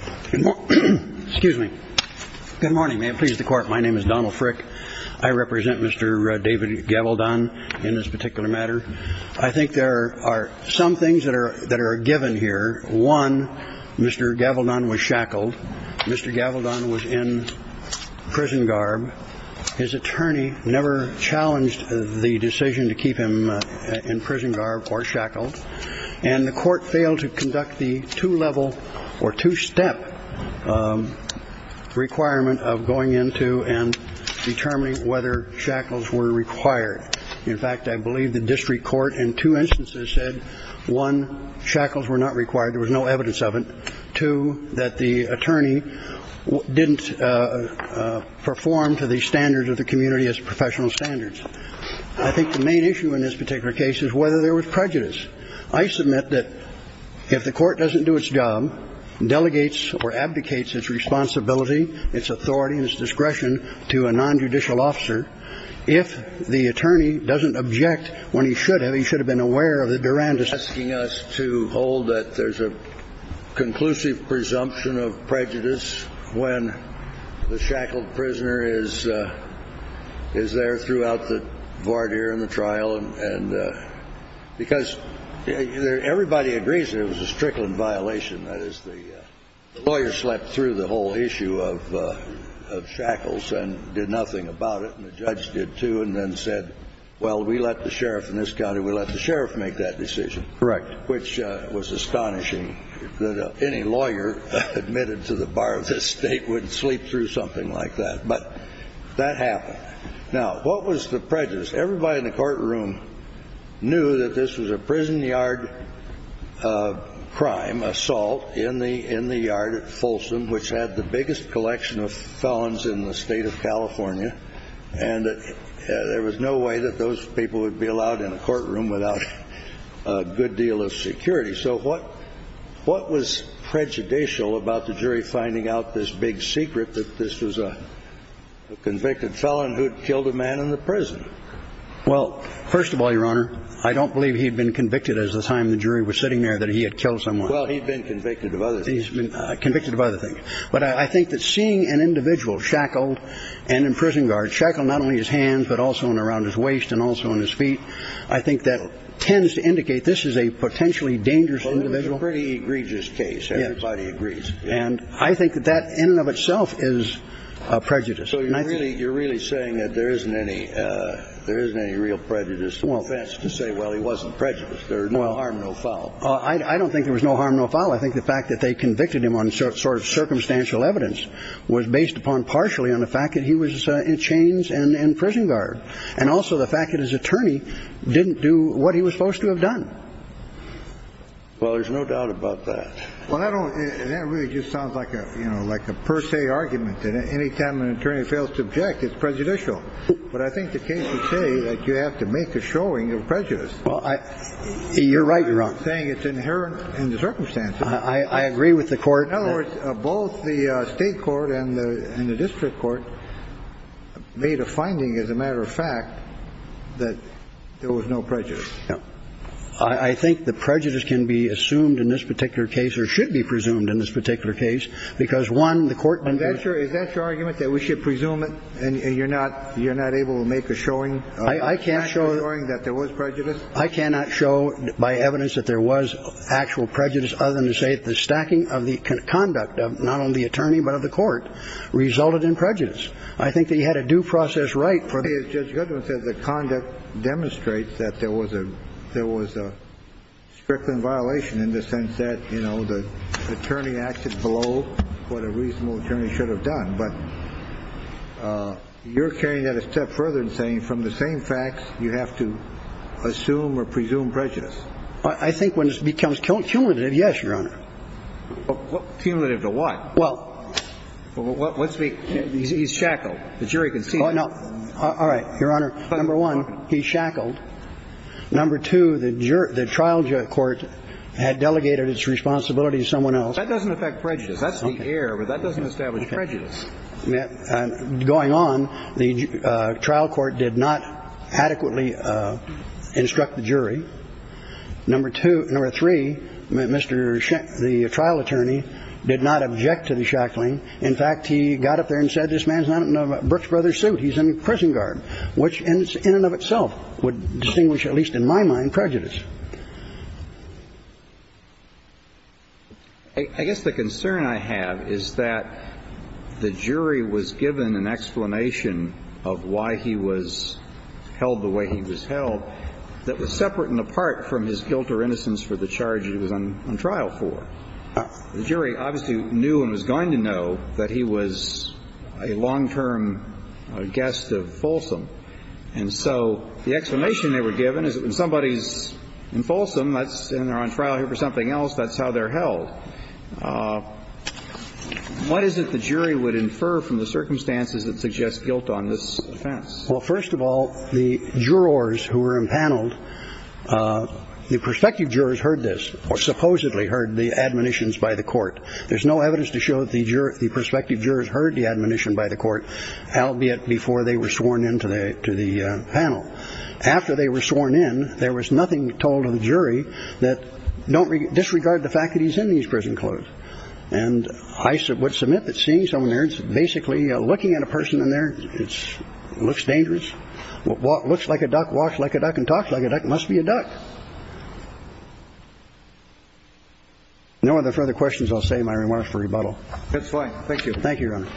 Good morning. May it please the court, my name is Donald Frick. I represent Mr. David Gavaldon in this particular matter. I think there are some things that are given here. One, Mr. Gavaldon was shackled. Mr. Gavaldon was in prison garb. His attorney never challenged the decision to keep him in prison garb or shackled. And the court failed to conduct the two-level or two-step requirement of going into and determining whether shackles were required. In fact, I believe the district court in two instances said, one, shackles were not required. There was no evidence of it. Two, that the attorney didn't perform to the standards of the community as professional standards. I think the main issue in this particular case is whether there was prejudice. I submit that if the court doesn't do its job, delegates or abdicates its responsibility, its authority and its discretion to a nonjudicial officer, if the attorney doesn't object when he should have, he should have been aware of the durandus. Asking us to hold that there's a conclusive presumption of prejudice when the shackled prisoner is, is there throughout the voir dire in the trial and because everybody agrees there was a strickland violation. That is, the lawyer slept through the whole issue of shackles and did nothing about it. And the judge did, too, and then said, well, we let the sheriff in this county, we let the sheriff make that decision. Correct. Which was astonishing that any lawyer admitted to the bar of this state would sleep through something like that. But that happened. Now, what was the prejudice? Everybody in the courtroom knew that this was a prison yard crime assault in the, in the yard at Folsom, which had the biggest collection of felons in the state of California. And there was no way that those people would be allowed in a courtroom without a good deal of security. So what what was prejudicial about the jury finding out this big secret that this was a convicted felon who killed a man in the prison? Well, first of all, Your Honor, I don't believe he'd been convicted as the time the jury was sitting there that he had killed someone. Well, he'd been convicted of other things, been convicted of other things. But I think that seeing an individual shackled and in prison guard shackle, not only his hands, but also in around his waist and also on his feet. I think that tends to indicate this is a potentially dangerous individual, pretty egregious case. Everybody agrees. And I think that that in and of itself is a prejudice. So you're really you're really saying that there isn't any there isn't any real prejudice to say, well, he wasn't prejudiced. There's no harm, no foul. I don't think there was no harm, no foul. I think the fact that they convicted him on sort of circumstantial evidence was based upon partially on the fact that he was in chains and in prison guard. And also the fact that his attorney didn't do what he was supposed to have done. Well, there's no doubt about that. Well, I don't. And that really just sounds like a, you know, like a per se argument that any time an attorney fails to object, it's prejudicial. But I think the case would say that you have to make a showing of prejudice. You're right. You're saying it's inherent in the circumstances. I agree with the court. In other words, both the state court and the district court made a finding, as a matter of fact, that there was no prejudice. I think the prejudice can be assumed in this particular case or should be presumed in this particular case, because, one, the court. And that's your is that your argument that we should presume it and you're not you're not able to make a showing. I can't show that there was prejudice. I cannot show by evidence that there was actual prejudice other than to say the stacking of the conduct of not only the attorney, but of the court resulted in prejudice. I think they had a due process right for the judge. But you're carrying that a step further and saying from the same facts, you have to assume or presume prejudice. I think when it becomes cumulative. Yes, Your Honor. Cumulative to what? Well, let's be. He's shackled. The jury can see. No. All right. Your Honor. Number one, he shackled. Number two, the jury. The trial court had delegated its responsibility to someone else. That doesn't affect prejudice. That's the air. But that doesn't establish prejudice. And going on, the trial court did not adequately instruct the jury. Number two or three. Mr. The trial attorney did not object to the shackling. In fact, he got up there and said, this man's not in a Brooks Brothers suit. He's in prison guard, which is in and of itself would distinguish, at least in my mind, prejudice. I guess the concern I have is that the jury was given an explanation of why he was held the way he was held that was separate and apart from his guilt or innocence for the charges he was on trial for. The jury obviously knew and was going to know that he was a long-term guest of Folsom. And so the explanation they were given is when somebody's in Folsom, that's in there on trial here for something else. That's how they're held. What is it the jury would infer from the circumstances that suggest guilt on this? Well, first of all, the jurors who were impaneled, the perspective jurors heard this or supposedly heard the admonitions by the court. There's no evidence to show that the jurors, the perspective jurors heard the admonition by the court. Albeit before they were sworn into the to the panel, after they were sworn in, there was nothing told to the jury that don't disregard the fact that he's in these prison clothes. And I would submit that seeing someone there, it's basically looking at a person in there. It's looks dangerous. What looks like a duck walks like a duck and talks like it must be a duck. No other further questions. I'll say my remarks for rebuttal. That's fine. Thank you. Thank you, Your Honor.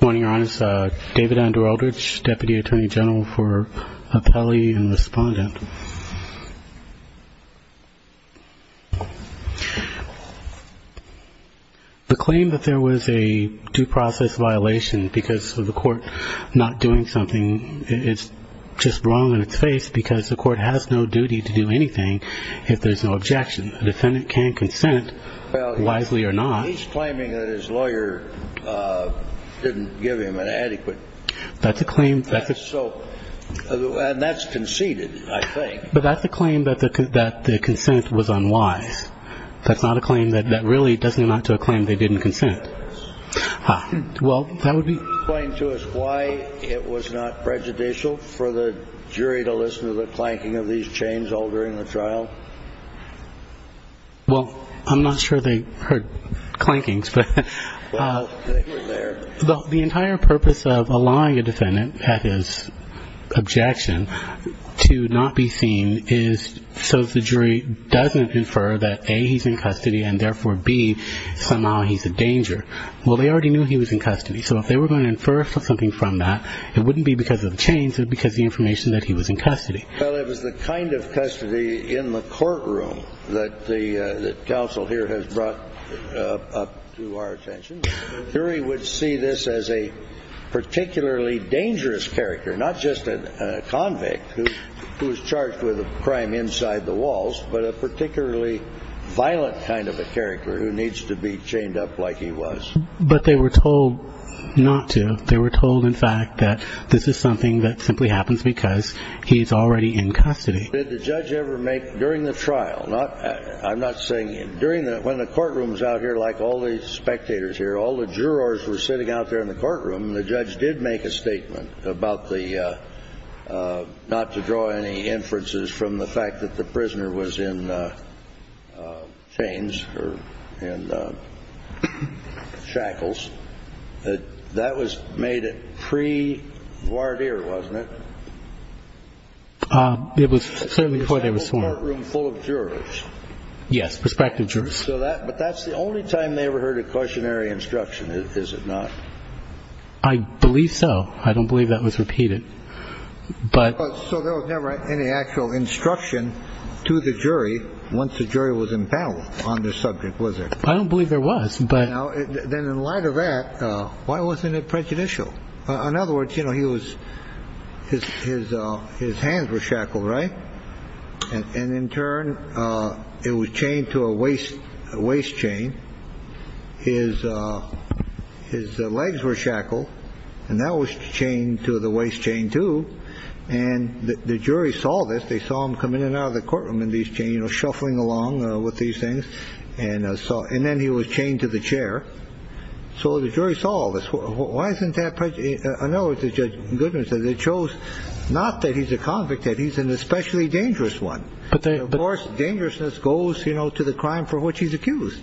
Morning, Your Honor. David Andrew Eldridge, Deputy Attorney General for Appellee and Respondent. The claim that there was a due process violation because of the court not doing something, it's just wrong in its face because the court has no duty to do anything if there's no objection. A defendant can consent, wisely or not. He's claiming that his lawyer didn't give him an adequate. That's a claim. And that's conceded, I think. But that's a claim that the consent was unwise. That's not a claim that really doesn't amount to a claim they didn't consent. Well, that would be. Explain to us why it was not prejudicial for the jury to listen to the clanking of these chains all during the trial. Well, I'm not sure they heard clankings. Well, they were there. The entire purpose of allowing a defendant at his objection to not be seen is so the jury doesn't infer that, A, he's in custody and therefore, B, somehow he's a danger. Well, they already knew he was in custody. So if they were going to infer something from that, it wouldn't be because of the chains, it would be because of the information that he was in custody. Well, it was the kind of custody in the courtroom that the counsel here has brought up to our attention. I think the jury would see this as a particularly dangerous character, not just a convict who is charged with a crime inside the walls, but a particularly violent kind of a character who needs to be chained up like he was. But they were told not to. They were told, in fact, that this is something that simply happens because he's already in custody. Did the judge ever make, during the trial, not – I'm not saying – but during the – when the courtrooms out here, like all the spectators here, all the jurors were sitting out there in the courtroom, the judge did make a statement about the – not to draw any inferences from the fact that the prisoner was in chains or shackles. That was made pre-voir dire, wasn't it? It was certainly before they were sworn. Yes, prospective jurors. But that's the only time they ever heard a cautionary instruction, is it not? I believe so. I don't believe that was repeated. So there was never any actual instruction to the jury once the jury was in battle on this subject, was there? I don't believe there was. Then in light of that, why wasn't it prejudicial? In other words, you know, he was – his hands were shackled, right? And in turn, it was chained to a waist chain. His legs were shackled, and that was chained to the waist chain, too. And the jury saw this. They saw him come in and out of the courtroom in these chains, you know, shuffling along with these things. And then he was chained to the chair. So the jury saw this. Why isn't that prejudicial? In other words, as Judge Goodman says, it shows not that he's a convict, that he's an especially dangerous one. Of course, dangerousness goes, you know, to the crime for which he's accused.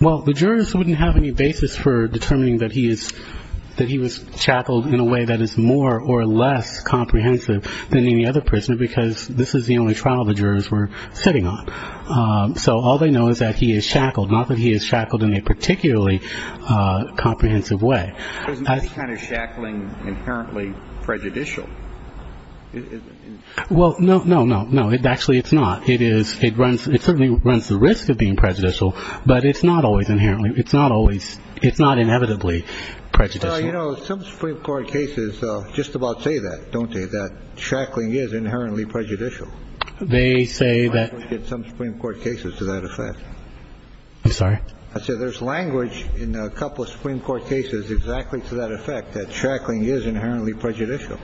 Well, the jurors wouldn't have any basis for determining that he is – that he was shackled in a way that is more or less comprehensive than any other prisoner because this is the only trial the jurors were sitting on. So all they know is that he is shackled, not that he is shackled in a particularly comprehensive way. Isn't any kind of shackling inherently prejudicial? Well, no, no, no, no. Actually, it's not. It is – it runs – it certainly runs the risk of being prejudicial, but it's not always inherently. It's not always – it's not inevitably prejudicial. Well, you know, some Supreme Court cases just about say that, don't they, that shackling is inherently prejudicial. They say that – Some Supreme Court cases to that effect. I'm sorry? I said there's language in a couple of Supreme Court cases exactly to that effect, that shackling is inherently prejudicial.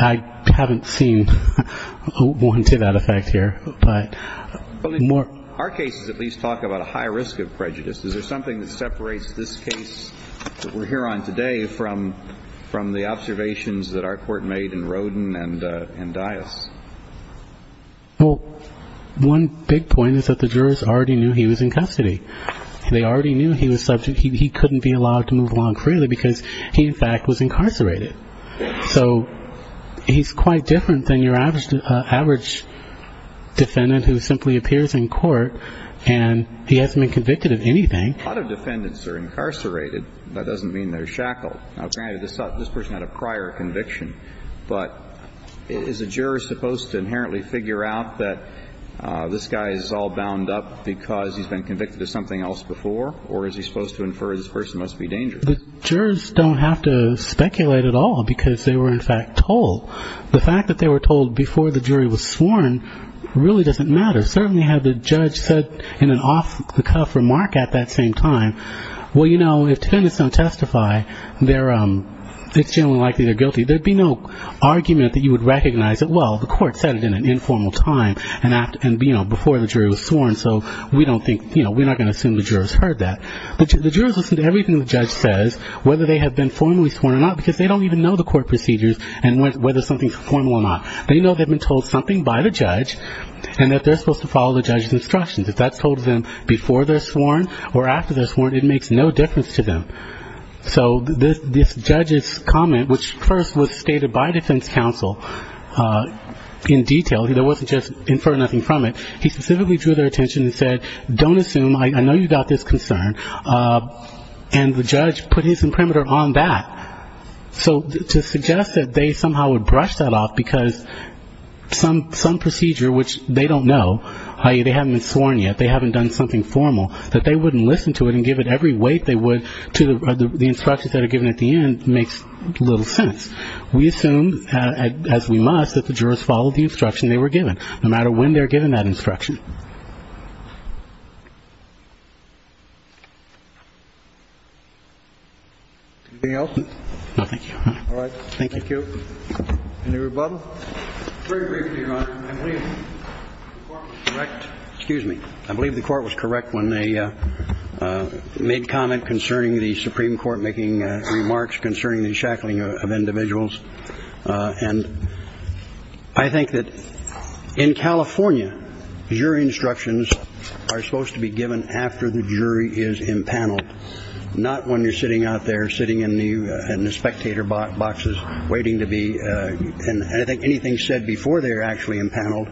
I haven't seen one to that effect here. But more – Our cases at least talk about a high risk of prejudice. Is there something that separates this case that we're here on today from the observations that our court made in Rodin and Dias? Well, one big point is that the jurors already knew he was in custody. They already knew he was subject. He couldn't be allowed to move along freely because he, in fact, was incarcerated. So he's quite different than your average defendant who simply appears in court and he hasn't been convicted of anything. A lot of defendants are incarcerated. That doesn't mean they're shackled. Now, granted, this person had a prior conviction. But is a juror supposed to inherently figure out that this guy is all bound up because he's been convicted of something else before? Or is he supposed to infer this person must be dangerous? The jurors don't have to speculate at all because they were, in fact, told. The fact that they were told before the jury was sworn really doesn't matter. Certainly have the judge said in an off-the-cuff remark at that same time, Well, you know, if defendants don't testify, it's generally likely they're guilty. There'd be no argument that you would recognize that, well, the court said it in an informal time and before the jury was sworn. So we're not going to assume the jurors heard that. But the jurors listen to everything the judge says, whether they have been formally sworn or not, because they don't even know the court procedures and whether something's formal or not. They know they've been told something by the judge and that they're supposed to follow the judge's instructions. If that's told to them before they're sworn or after they're sworn, it makes no difference to them. So this judge's comment, which first was stated by defense counsel in detail, there wasn't just infer nothing from it. He specifically drew their attention and said, Don't assume. I know you've got this concern. And the judge put his imprimatur on that. So to suggest that they somehow would brush that off because some procedure which they don't know, i.e., they haven't been sworn yet, they haven't done something formal, that they wouldn't listen to it and give it every weight they would to the instructions that are given at the end makes little sense. We assume, as we must, that the jurors followed the instruction they were given, no matter when they're given that instruction. Anything else? No, thank you. All right. Thank you. Thank you. Any rebuttal? Very briefly, Your Honor. Excuse me. I believe the court was correct when they made comment concerning the Supreme Court making remarks concerning the shackling of individuals. And I think that in California, jury instructions are supposed to be given after the jury is impaneled, not when you're sitting out there sitting in the spectator boxes waiting to be. And I think anything said before they're actually impaneled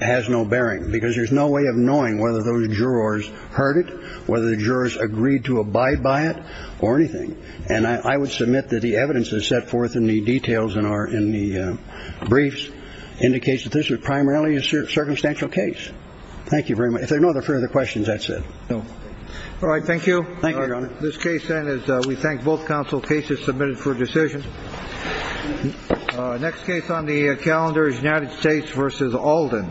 has no bearing because there's no way of knowing whether those jurors heard it, whether the jurors agreed to abide by it or anything. And I would submit that the evidence is set forth in the details and are in the briefs indicates that this was primarily a circumstantial case. Thank you very much. If there are no further questions, that's it. All right. Thank you. Thank you, Your Honor. This case, then, is we thank both counsel cases submitted for decision. Next case on the calendar is United States versus Alden.